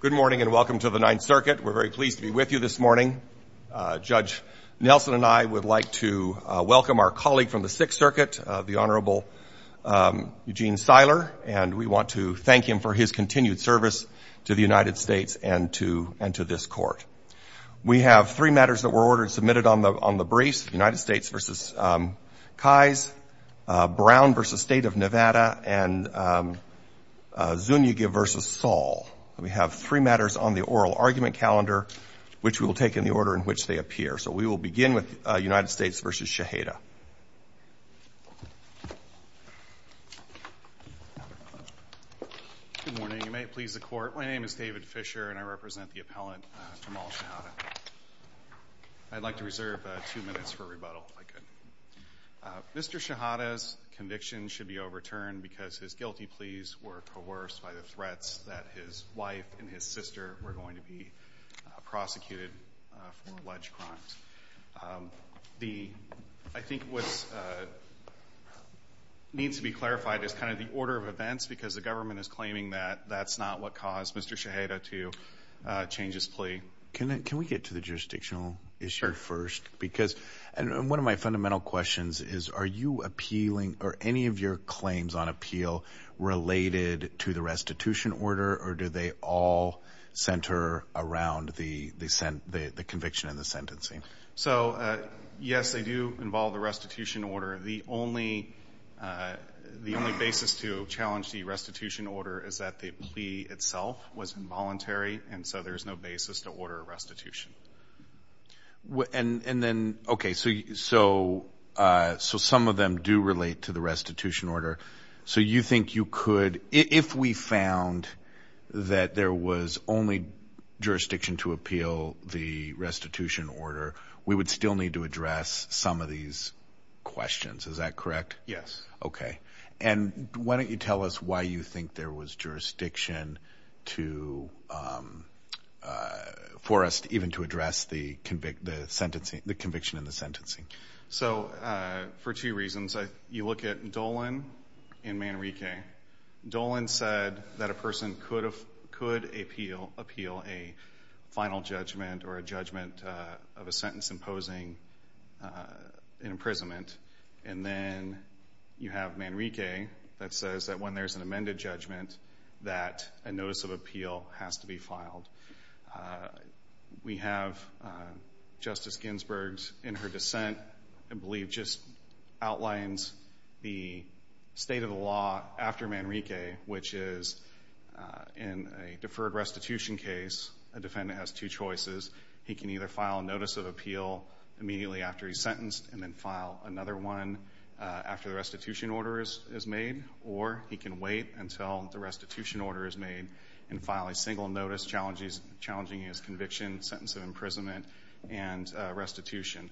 Good morning and welcome to the Ninth Circuit. We're very pleased to be with you this morning. Judge Nelson and I would like to welcome our colleague from the Sixth Circuit, the Honorable Eugene Seiler, and we want to thank him for his continued service to the United States and to this court. We have three matters that were ordered and submitted on the briefs, United States v. Kais, Brown v. State of Nevada, and Zuniga v. Saul. We have three matters on the oral argument calendar, which we will take in the order in which they appear. So we will begin with United States v. Shehadeh. Good morning. You may please the Court. My name is David Fisher, and I represent the appellant, Jamal Shehadeh. I'd like to reserve two minutes for rebuttal, if I could. Mr. Shehadeh's conviction should be overturned because his guilty pleas were coerced by the threats that his wife and his sister were going to be prosecuted for alleged crimes. I think what needs to be clarified is kind of the order of events, because the government is claiming that that's not what caused Mr. Shehadeh to change his plea. Can we get to the jurisdictional issue first? Because one of my fundamental questions is are you appealing or any of your claims on appeal related to the restitution order, or do they all center around the conviction and the sentencing? So, yes, they do involve the restitution order. The only basis to challenge the restitution order is that the plea itself was involuntary, and so there's no basis to order a restitution. And then, okay, so some of them do relate to the restitution order. So you think you could, if we found that there was only jurisdiction to appeal the restitution order, we would still need to address some of these questions, is that correct? Yes. Okay. And why don't you tell us why you think there was jurisdiction for us even to address the conviction and the sentencing? So for two reasons. You look at Dolan and Manrique. Dolan said that a person could appeal a final judgment or a judgment of a sentence imposing an imprisonment, and then you have Manrique that says that when there's an amended judgment that a notice of appeal has to be filed. We have Justice Ginsburg in her dissent, I believe, just outlines the state of the law after Manrique, which is in a deferred restitution case, a defendant has two choices. He can either file a notice of appeal immediately after he's sentenced and then file another one after the restitution order is made, or he can wait until the restitution order is made and file a single notice challenging his conviction, sentence of imprisonment, and restitution.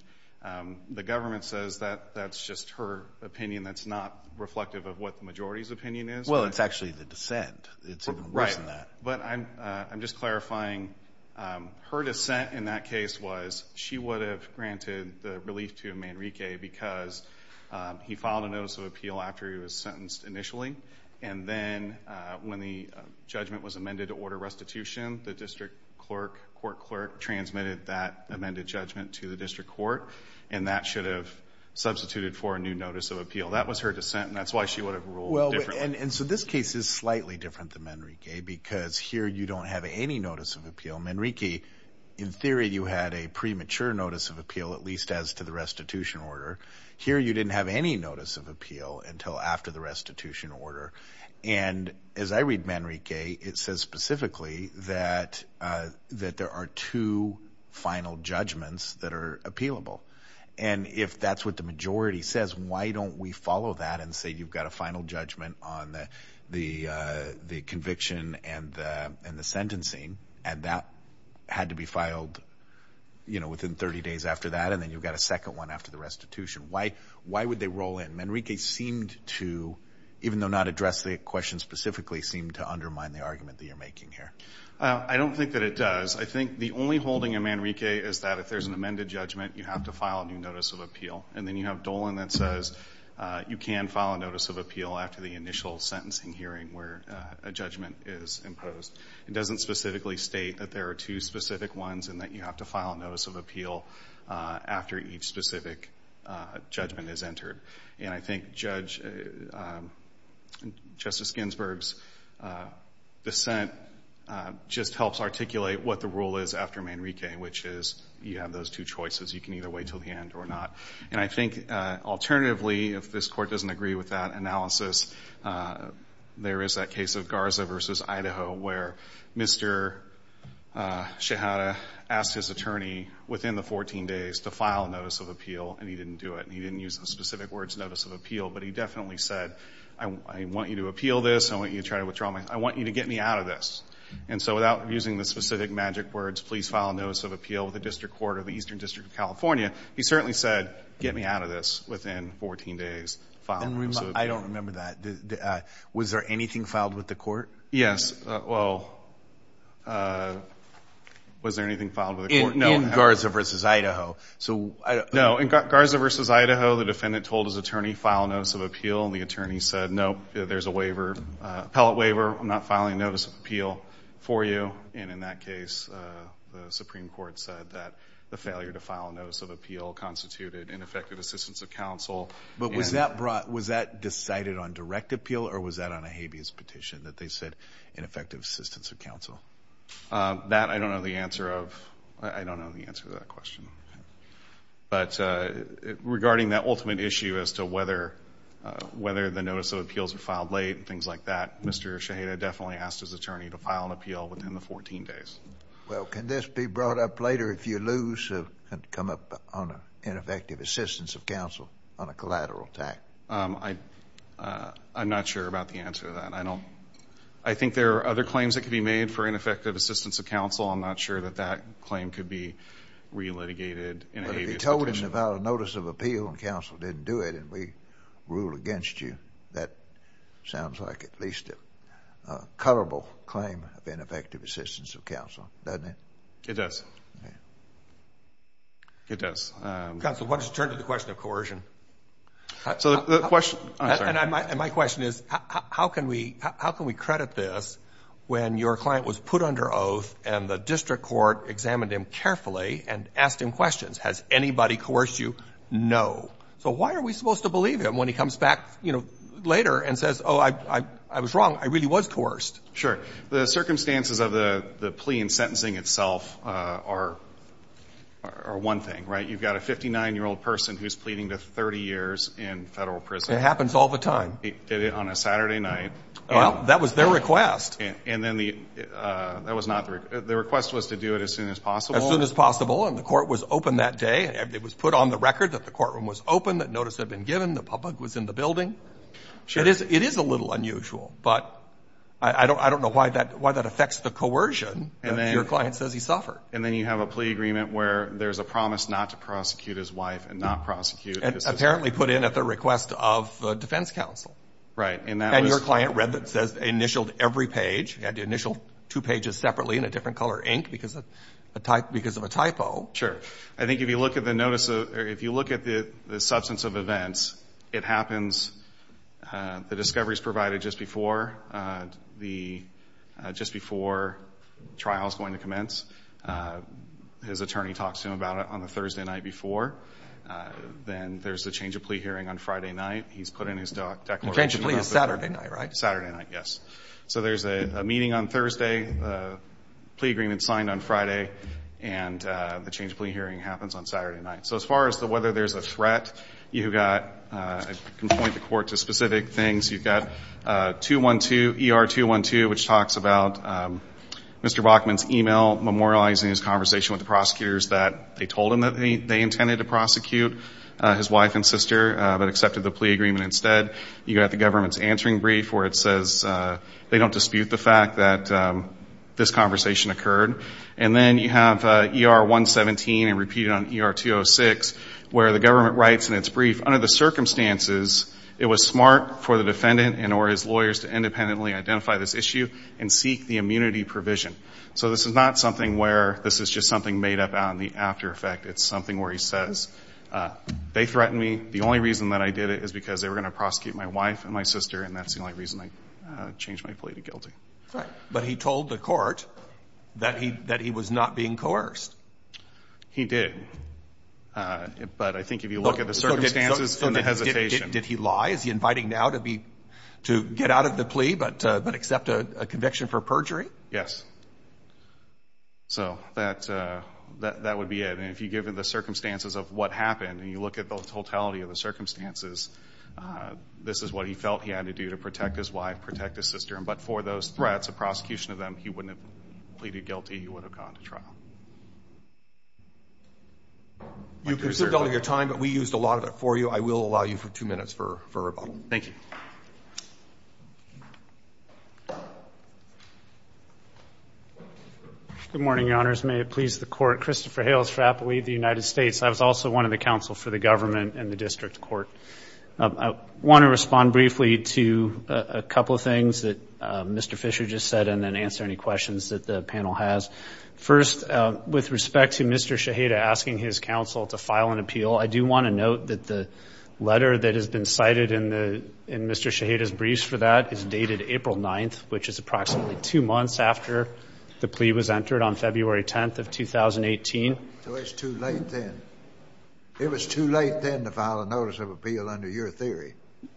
The government says that that's just her opinion. That's not reflective of what the majority's opinion is. Well, it's actually the dissent. Right. But I'm just clarifying. Her dissent in that case was she would have granted the relief to Manrique because he filed a notice of appeal after he was sentenced initially, and then when the judgment was amended to order restitution, the district court clerk transmitted that amended judgment to the district court, and that should have substituted for a new notice of appeal. That was her dissent, and that's why she would have ruled differently. And so this case is slightly different than Manrique because here you don't have any notice of appeal. Manrique, in theory, you had a premature notice of appeal, at least as to the restitution order. Here you didn't have any notice of appeal until after the restitution order. And as I read Manrique, it says specifically that there are two final judgments that are appealable. And if that's what the majority says, why don't we follow that and say you've got a final judgment on the conviction and the sentencing, and that had to be filed, you know, within 30 days after that, and then you've got a second one after the restitution. Why would they roll in? Manrique seemed to, even though not addressed the question specifically, seemed to undermine the argument that you're making here. I don't think that it does. I think the only holding in Manrique is that if there's an amended judgment, you have to file a new notice of appeal. And then you have Dolan that says you can file a notice of appeal after the initial sentencing hearing where a judgment is imposed. It doesn't specifically state that there are two specific ones and that you have to file a notice of appeal after each specific judgment is entered. And I think Justice Ginsburg's dissent just helps articulate what the rule is after Manrique, which is you have those two choices. You can either wait until the end or not. And I think alternatively, if this Court doesn't agree with that analysis, there is that case of Garza v. Idaho where Mr. Shehata asked his attorney within the 14 days to file a notice of appeal, and he didn't do it. He didn't use the specific words notice of appeal, but he definitely said, I want you to appeal this, I want you to try to withdraw, I want you to get me out of this. And so without using the specific magic words, please file a notice of appeal with the District Court of the Eastern District of California, he certainly said get me out of this within 14 days. I don't remember that. Was there anything filed with the Court? Yes. Well, was there anything filed with the Court? In Garza v. Idaho. No. In Garza v. Idaho, the defendant told his attorney file a notice of appeal, and the attorney said, no, there's a waiver, appellate waiver. I'm not filing a notice of appeal for you. And in that case, the Supreme Court said that the failure to file a notice of appeal constituted ineffective assistance of counsel. But was that decided on direct appeal, or was that on a habeas petition that they said ineffective assistance of counsel? That I don't know the answer of. I don't know the answer to that question. But regarding that ultimate issue as to whether the notice of appeals were filed late and things like that, Mr. Shaheda definitely asked his attorney to file an appeal within the 14 days. Well, can this be brought up later if you lose and come up on ineffective assistance of counsel on a collateral tax? I'm not sure about the answer to that. I think there are other claims that could be made for ineffective assistance of counsel. I'm not sure that that claim could be re-litigated in a habeas petition. But if you told him to file a notice of appeal and counsel didn't do it and we rule against you, that sounds like at least a coverable claim of ineffective assistance of counsel, doesn't it? It does. It does. Counsel, why don't you turn to the question of coercion? And my question is, how can we credit this when your client was put under oath and the district court examined him carefully and asked him questions? Has anybody coerced you? No. So why are we supposed to believe him when he comes back later and says, oh, I was wrong. I really was coerced. Sure. The circumstances of the plea and sentencing itself are one thing, right? You've got a 59-year-old person who's pleading to 30 years in federal prison. It happens all the time. He did it on a Saturday night. Well, that was their request. And then the request was to do it as soon as possible. As soon as possible. And the court was open that day. It was put on the record that the courtroom was open, that notice had been given, the bug was in the building. It is a little unusual. But I don't know why that affects the coercion that your client says he suffered. And then you have a plea agreement where there's a promise not to prosecute his wife and not prosecute his sister. And apparently put in at the request of the defense counsel. Right. And that was coerced. And your client read that and initialed every page. He had to initial two pages separately in a different color ink because of a typo. Sure. So I think if you look at the substance of events, it happens, the discovery is provided just before the trial is going to commence. His attorney talks to him about it on the Thursday night before. Then there's the change of plea hearing on Friday night. He's put in his declaration. The change of plea is Saturday night, right? Saturday night, yes. So there's a meeting on Thursday, a plea agreement signed on Friday, and the change of plea hearing happens on Saturday night. So as far as whether there's a threat, you've got, I can point the court to specific things. You've got 212, ER-212, which talks about Mr. Bachman's email memorializing his conversation with the prosecutors that they told him that they intended to prosecute his wife and sister but accepted the plea agreement instead. You've got the government's answering brief where it says they don't dispute the fact that this conversation occurred. And then you have ER-117, and repeated on ER-206, where the government writes in its brief, under the circumstances it was smart for the defendant and or his lawyers to independently identify this issue and seek the immunity provision. So this is not something where this is just something made up out in the after effect. It's something where he says they threatened me. The only reason that I did it is because they were going to prosecute my wife and my sister, and that's the only reason I changed my plea to guilty. Right. But he told the court that he was not being coerced. He did. But I think if you look at the circumstances and the hesitation. Did he lie? Is he inviting now to get out of the plea but accept a conviction for perjury? Yes. So that would be it. And if you give him the circumstances of what happened and you look at the totality of the circumstances, this is what he felt he had to do to protect his wife, protect his sister. But for those threats, a prosecution of them, he wouldn't have pleaded guilty. He would have gone to trial. You've consumed all of your time, but we used a lot of it for you. I will allow you two minutes for rebuttal. Thank you. Good morning, Your Honors. May it please the Court. Christopher Hales for Appalachia United States. I was also one of the counsel for the government in the district court. I want to respond briefly to a couple of things that Mr. Fisher just said and then answer any questions that the panel has. First, with respect to Mr. Shaheda asking his counsel to file an appeal, I do want to note that the letter that has been cited in Mr. Shaheda's briefs for that is dated April 9th, which is approximately two months after the plea was entered on February 10th of 2018. It was too late then.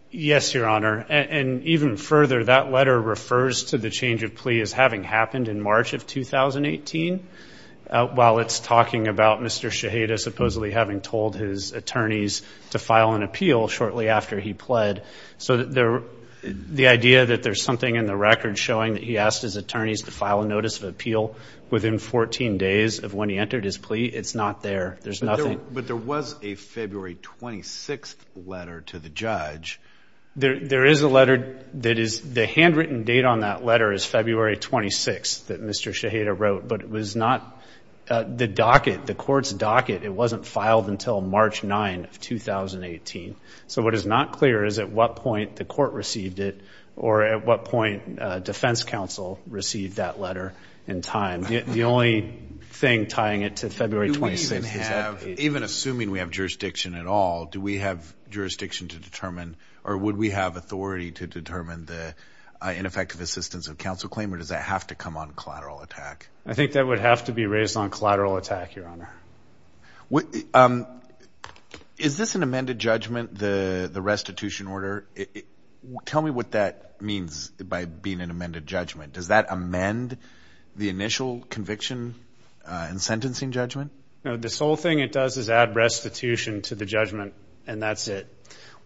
Yes, Your Honor. And even further, that letter refers to the change of plea as having happened in March of 2018, while it's talking about Mr. Shaheda supposedly having told his attorneys to file an appeal shortly after he pled. So the idea that there's something in the record showing that he asked his attorneys to file a notice of appeal within 14 days of when he entered his plea, it's not there. There's nothing. But there was a February 26th letter to the judge. There is a letter that is the handwritten date on that letter is February 26th that Mr. Shaheda wrote, but it was not the docket, the court's docket. It wasn't filed until March 9th of 2018. So what is not clear is at what point the court received it or at what point defense counsel received that letter in time. The only thing tying it to February 26th is that plea. Even assuming we have jurisdiction at all, do we have jurisdiction to determine or would we have authority to determine the ineffective assistance of counsel claim or does that have to come on collateral attack? I think that would have to be raised on collateral attack, Your Honor. Is this an amended judgment, the restitution order? Tell me what that means by being an amended judgment. Does that amend the initial conviction and sentencing judgment? No, the sole thing it does is add restitution to the judgment, and that's it.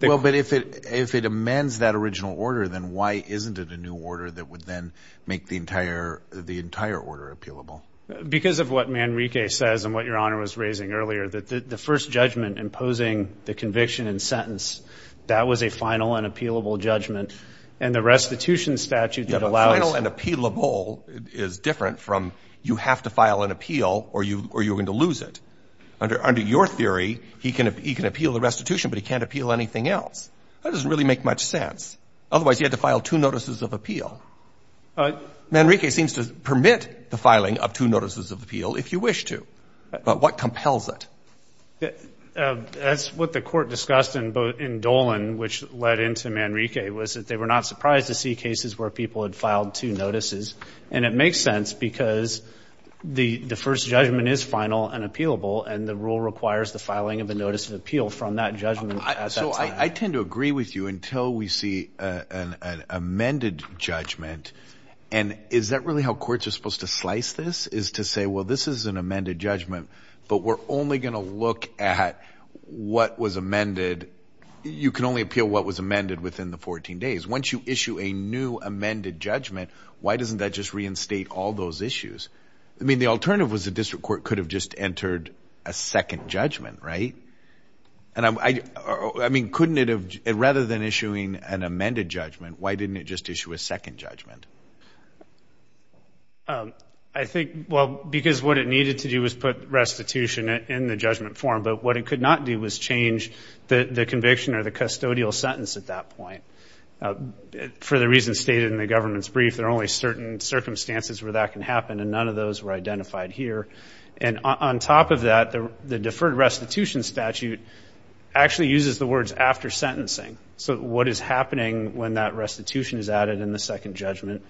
Well, but if it amends that original order, then why isn't it a new order that would then make the entire order appealable? Because of what Manrique says and what Your Honor was raising earlier, that the first judgment imposing the conviction and sentence, that was a final and appealable judgment. And the restitution statute that allows you to file an appeal or you're going to lose it. Under your theory, he can appeal the restitution, but he can't appeal anything else. That doesn't really make much sense. Otherwise, he had to file two notices of appeal. Manrique seems to permit the filing of two notices of appeal if you wish to. But what compels it? That's what the Court discussed in Dolan, which led into Manrique, was that they were not surprised to see cases where people had filed two notices. And it makes sense because the first judgment is final and appealable, and the rule requires the filing of a notice of appeal from that judgment at that time. So I tend to agree with you until we see an amended judgment. And is that really how courts are supposed to slice this, is to say, well, this is an amended judgment, but we're only going to look at what was issue a new amended judgment, why doesn't that just reinstate all those issues? I mean, the alternative was the district court could have just entered a second judgment, right? I mean, rather than issuing an amended judgment, why didn't it just issue a second judgment? I think, well, because what it needed to do was put restitution in the judgment form, but what it could not do was change the conviction or the custodial sentence at that point. For the reasons stated in the government's brief, there are only certain circumstances where that can happen, and none of those were identified here. And on top of that, the deferred restitution statute actually uses the words after sentencing. So what is happening when that restitution is added in the second judgment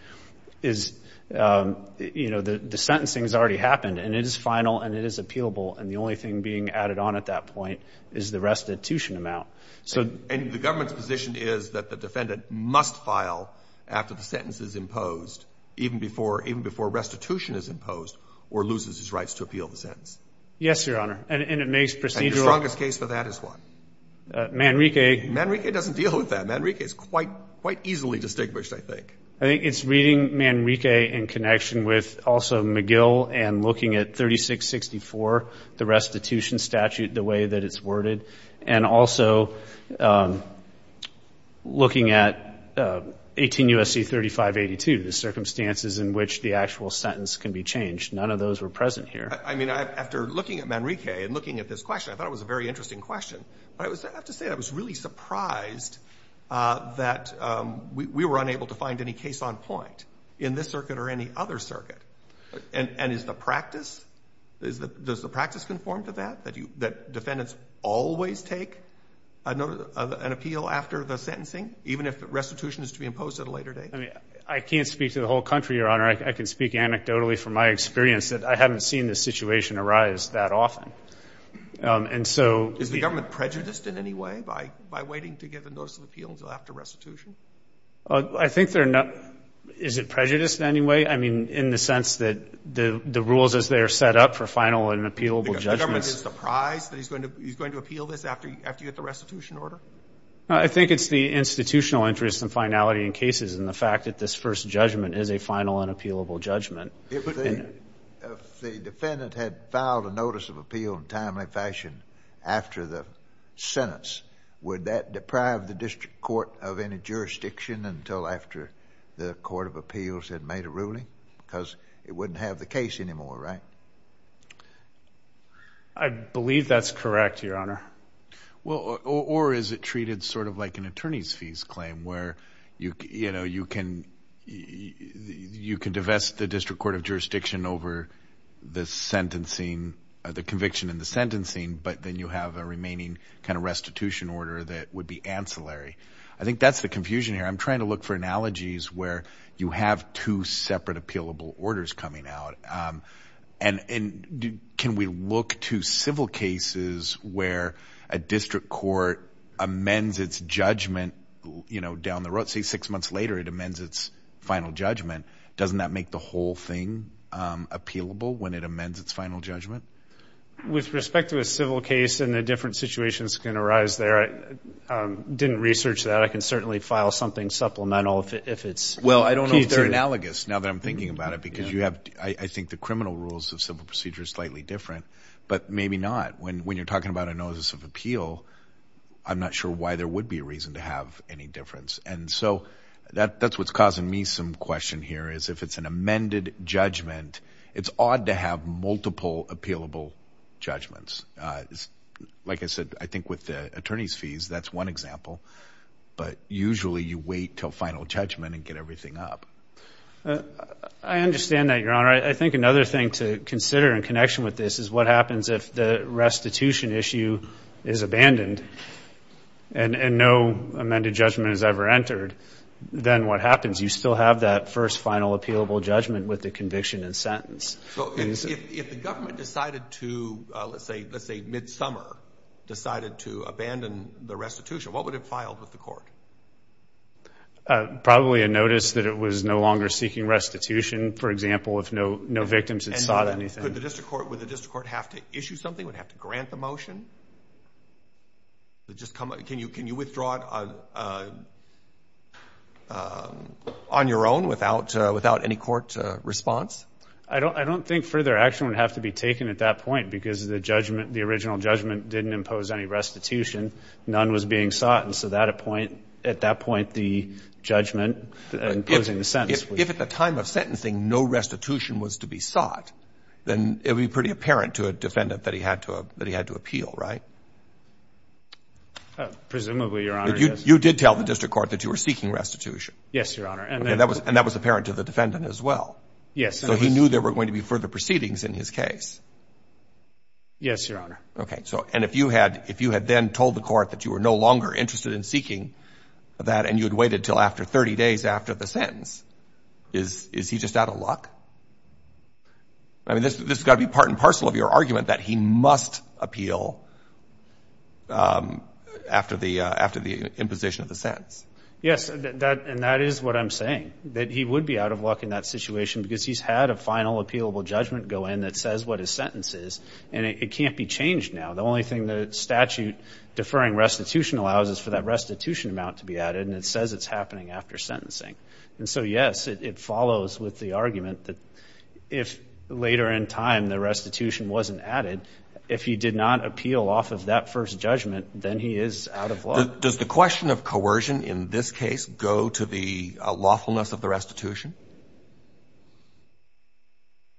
is, you know, the sentencing has already happened, and it is final and it is appealable, and the only thing being added on at that point is the restitution amount. And the government's position is that the defendant must file after the sentence is imposed, even before restitution is imposed or loses his rights to appeal the sentence. Yes, Your Honor. And it makes procedural. And your strongest case for that is what? Manrique. Manrique doesn't deal with that. Manrique is quite easily distinguished, I think. I think it's reading Manrique in connection with also McGill and looking at 3664 the restitution statute, the way that it's worded, and also looking at 18 U.S.C. 3582, the circumstances in which the actual sentence can be changed. None of those were present here. I mean, after looking at Manrique and looking at this question, I thought it was a very interesting question. But I have to say I was really surprised that we were unable to find any case on point in this circuit or any other circuit. And is the practice, does the practice conform to that, that defendants always take an appeal after the sentencing, even if restitution is to be imposed at a later date? I mean, I can't speak to the whole country, Your Honor. I can speak anecdotally from my experience that I haven't seen this situation arise that often. Is the government prejudiced in any way by waiting to get the notice of appeal until after restitution? I think they're not. Is it prejudiced in any way? I mean, in the sense that the rules as they are set up for final and appealable judgments? The government is surprised that he's going to appeal this after you get the restitution order? I think it's the institutional interest and finality in cases and the fact that this first judgment is a final and appealable judgment. If the defendant had filed a notice of appeal in a timely fashion after the sentence, would that deprive the district court of any jurisdiction until after the court of jury? Because it wouldn't have the case anymore, right? I believe that's correct, Your Honor. Well, or is it treated sort of like an attorney's fees claim where, you know, you can divest the district court of jurisdiction over the conviction in the sentencing, but then you have a remaining kind of restitution order that would be ancillary? I think that's the confusion here. I'm trying to look for analogies where you have two separate appealable orders coming out. And can we look to civil cases where a district court amends its judgment, you know, down the road? Say six months later it amends its final judgment. Doesn't that make the whole thing appealable when it amends its final judgment? With respect to a civil case and the different situations that can arise there, I didn't research that. But I can certainly file something supplemental if it's key to it. Well, I don't know if they're analogous now that I'm thinking about it because you have, I think the criminal rules of civil procedure are slightly different. But maybe not. When you're talking about a notice of appeal, I'm not sure why there would be a reason to have any difference. And so that's what's causing me some question here is if it's an amended judgment, it's odd to have multiple appealable judgments. Like I said, I think with the attorney's fees, that's one example. But usually you wait until final judgment and get everything up. I understand that, Your Honor. I think another thing to consider in connection with this is what happens if the restitution issue is abandoned and no amended judgment is ever entered, then what happens? You still have that first final appealable judgment with the conviction and sentence. If the government decided to, let's say midsummer, decided to abandon the restitution, what would it file with the court? Probably a notice that it was no longer seeking restitution, for example, if no victims had sought anything. Would the district court have to issue something? Would it have to grant the motion? Can you withdraw it on your own without any court response? I don't think further action would have to be taken at that point because the judgment, the original judgment, didn't impose any restitution. None was being sought. And so at that point, the judgment imposing the sentence. If at the time of sentencing no restitution was to be sought, then it would be pretty apparent to a defendant that he had to appeal, right? Presumably, Your Honor. You did tell the district court that you were seeking restitution. Yes, Your Honor. And that was apparent to the defendant as well. Yes. So he knew there were going to be further proceedings in his case. Yes, Your Honor. Okay. And if you had then told the court that you were no longer interested in seeking that and you had waited until after 30 days after the sentence, is he just out of luck? I mean, this has got to be part and parcel of your argument that he must appeal after the imposition of the sentence. Yes, and that is what I'm saying, that he would be out of luck in that situation because he's had a final appealable judgment go in that says what his sentence is, and it can't be changed now. The only thing the statute deferring restitution allows is for that restitution amount to be added, and it says it's happening after sentencing. And so, yes, it follows with the argument that if later in time the restitution wasn't added, if he did not appeal off of that first judgment, then he is out of luck. Does the question of coercion in this case go to the lawfulness of the restitution?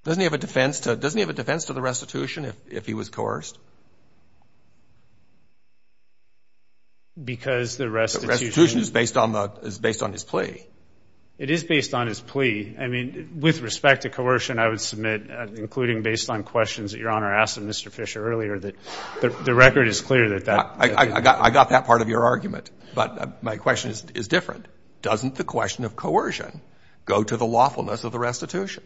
Doesn't he have a defense to the restitution if he was coerced? Because the restitution is based on his plea. It is based on his plea. I mean, with respect to coercion, I would submit, including based on questions that Your Honor asked of Mr. Fisher earlier, that the record is clear that that. I got that part of your argument, but my question is different. Doesn't the question of coercion go to the lawfulness of the restitution?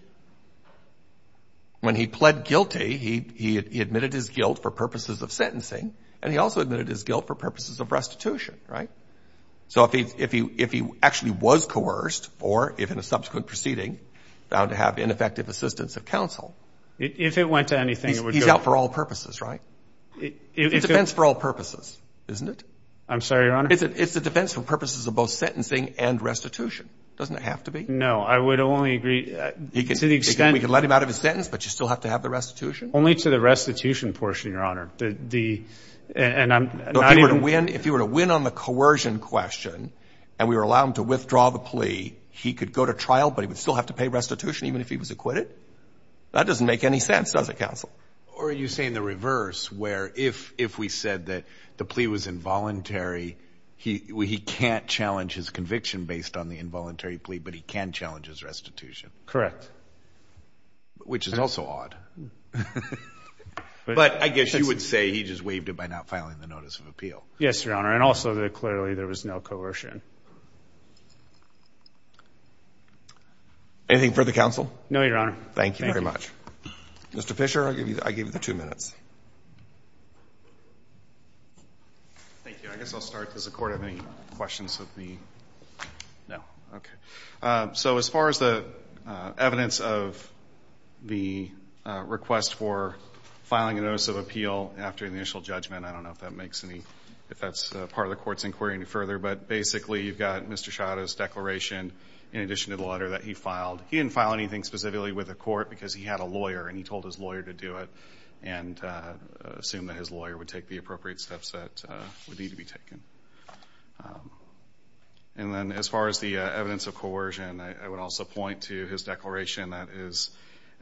When he pled guilty, he admitted his guilt for purposes of sentencing, and he also admitted his guilt for purposes of restitution, right? So if he actually was coerced or, if in a subsequent proceeding, found to have ineffective assistance of counsel. If it went to anything, it would go. He's out for all purposes, right? It's a defense for all purposes, isn't it? I'm sorry, Your Honor. It's a defense for purposes of both sentencing and restitution. Doesn't it have to be? No. I would only agree to the extent. We can let him out of his sentence, but you still have to have the restitution? Only to the restitution portion, Your Honor. And I'm not even. So if he were to win on the coercion question, and we would allow him to withdraw the plea, he could go to trial, but he would still have to pay restitution even if he was acquitted? That doesn't make any sense, does it, counsel? Or are you saying the reverse, where if we said that the plea was involuntary, he can't challenge his conviction based on the involuntary plea, but he can challenge his restitution? Correct. Which is also odd. But I guess you would say he just waived it by not filing the notice of appeal. Yes, Your Honor, and also that clearly there was no coercion. Anything for the counsel? No, Your Honor. Thank you very much. Mr. Fisher, I give you the two minutes. Thank you. I guess I'll start. Does the Court have any questions of me? No. Okay. So as far as the evidence of the request for filing a notice of appeal after the initial judgment, I don't know if that makes any, if that's part of the Court's inquiry any further, but basically you've got Mr. Scioto's declaration in addition to the letter that he filed. He didn't file anything specifically with the Court because he had a lawyer, and he told his lawyer to do it and assumed that his lawyer would take the appropriate steps that would need to be taken. And then as far as the evidence of coercion, I would also point to his declaration that is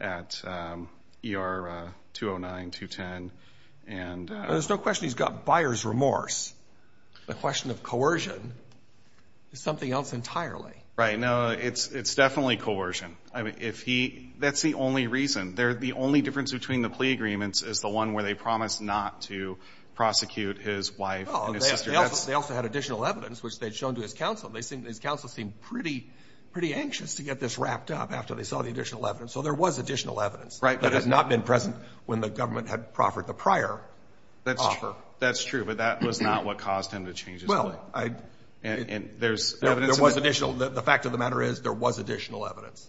at ER 209-210. There's no question he's got buyer's remorse. The question of coercion is something else entirely. Right. No, it's definitely coercion. That's the only reason. The only difference between the plea agreements is the one where they promise not to prosecute his wife and his sister. They also had additional evidence, which they'd shown to his counsel. His counsel seemed pretty anxious to get this wrapped up after they saw the additional evidence. So there was additional evidence that had not been present when the government had proffered the prior offer. That's true, but that was not what caused him to change his plea. There was additional. The fact of the matter is there was additional evidence.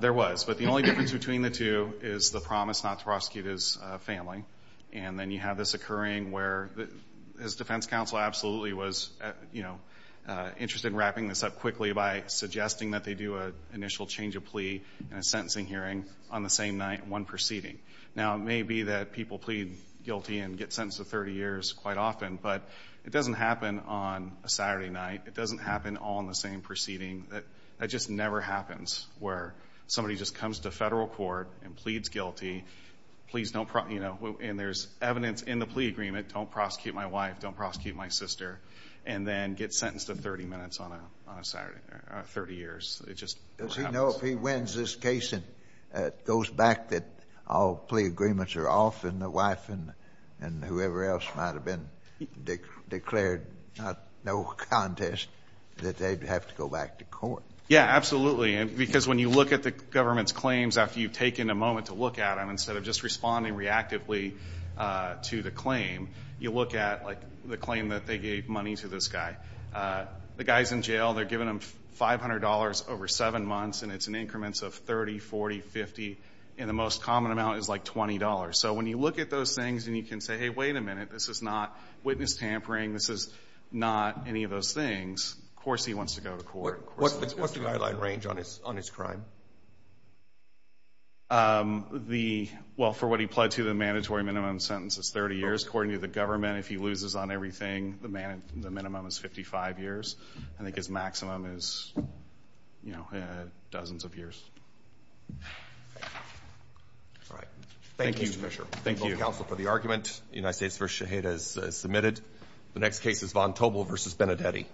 There was, but the only difference between the two is the promise not to prosecute his family. And then you have this occurring where his defense counsel absolutely was, you know, interested in wrapping this up quickly by suggesting that they do an initial change of plea in a sentencing hearing on the same night, one proceeding. Now, it may be that people plead guilty and get sentenced to 30 years quite often, but it doesn't happen on a Saturday night. It doesn't happen on the same proceeding. That just never happens where somebody just comes to federal court and pleads guilty. Please don't, you know, and there's evidence in the plea agreement. Don't prosecute my wife. Don't prosecute my sister. And then get sentenced to 30 minutes on a Saturday, 30 years. It just never happens. I hope he wins this case and goes back that all plea agreements are off and the wife and whoever else might have been declared no contest, that they'd have to go back to court. Yeah, absolutely. Because when you look at the government's claims, after you've taken a moment to look at them, instead of just responding reactively to the claim, you look at, like, the claim that they gave money to this guy. The guy's in jail. They're giving him $500 over 7 months, and it's in increments of 30, 40, 50, and the most common amount is, like, $20. So when you look at those things and you can say, hey, wait a minute, this is not witness tampering, this is not any of those things, of course he wants to go to court. What's the guideline range on his crime? Well, for what he pled to, the mandatory minimum sentence is 30 years. According to the government, if he loses on everything, the minimum is 55 years. I think his maximum is, you know, dozens of years. All right. Thank you, Mr. Fisher. Thank you both counsel for the argument. The United States v. Shaheed has submitted. The next case is Von Tobel v. Benedetti.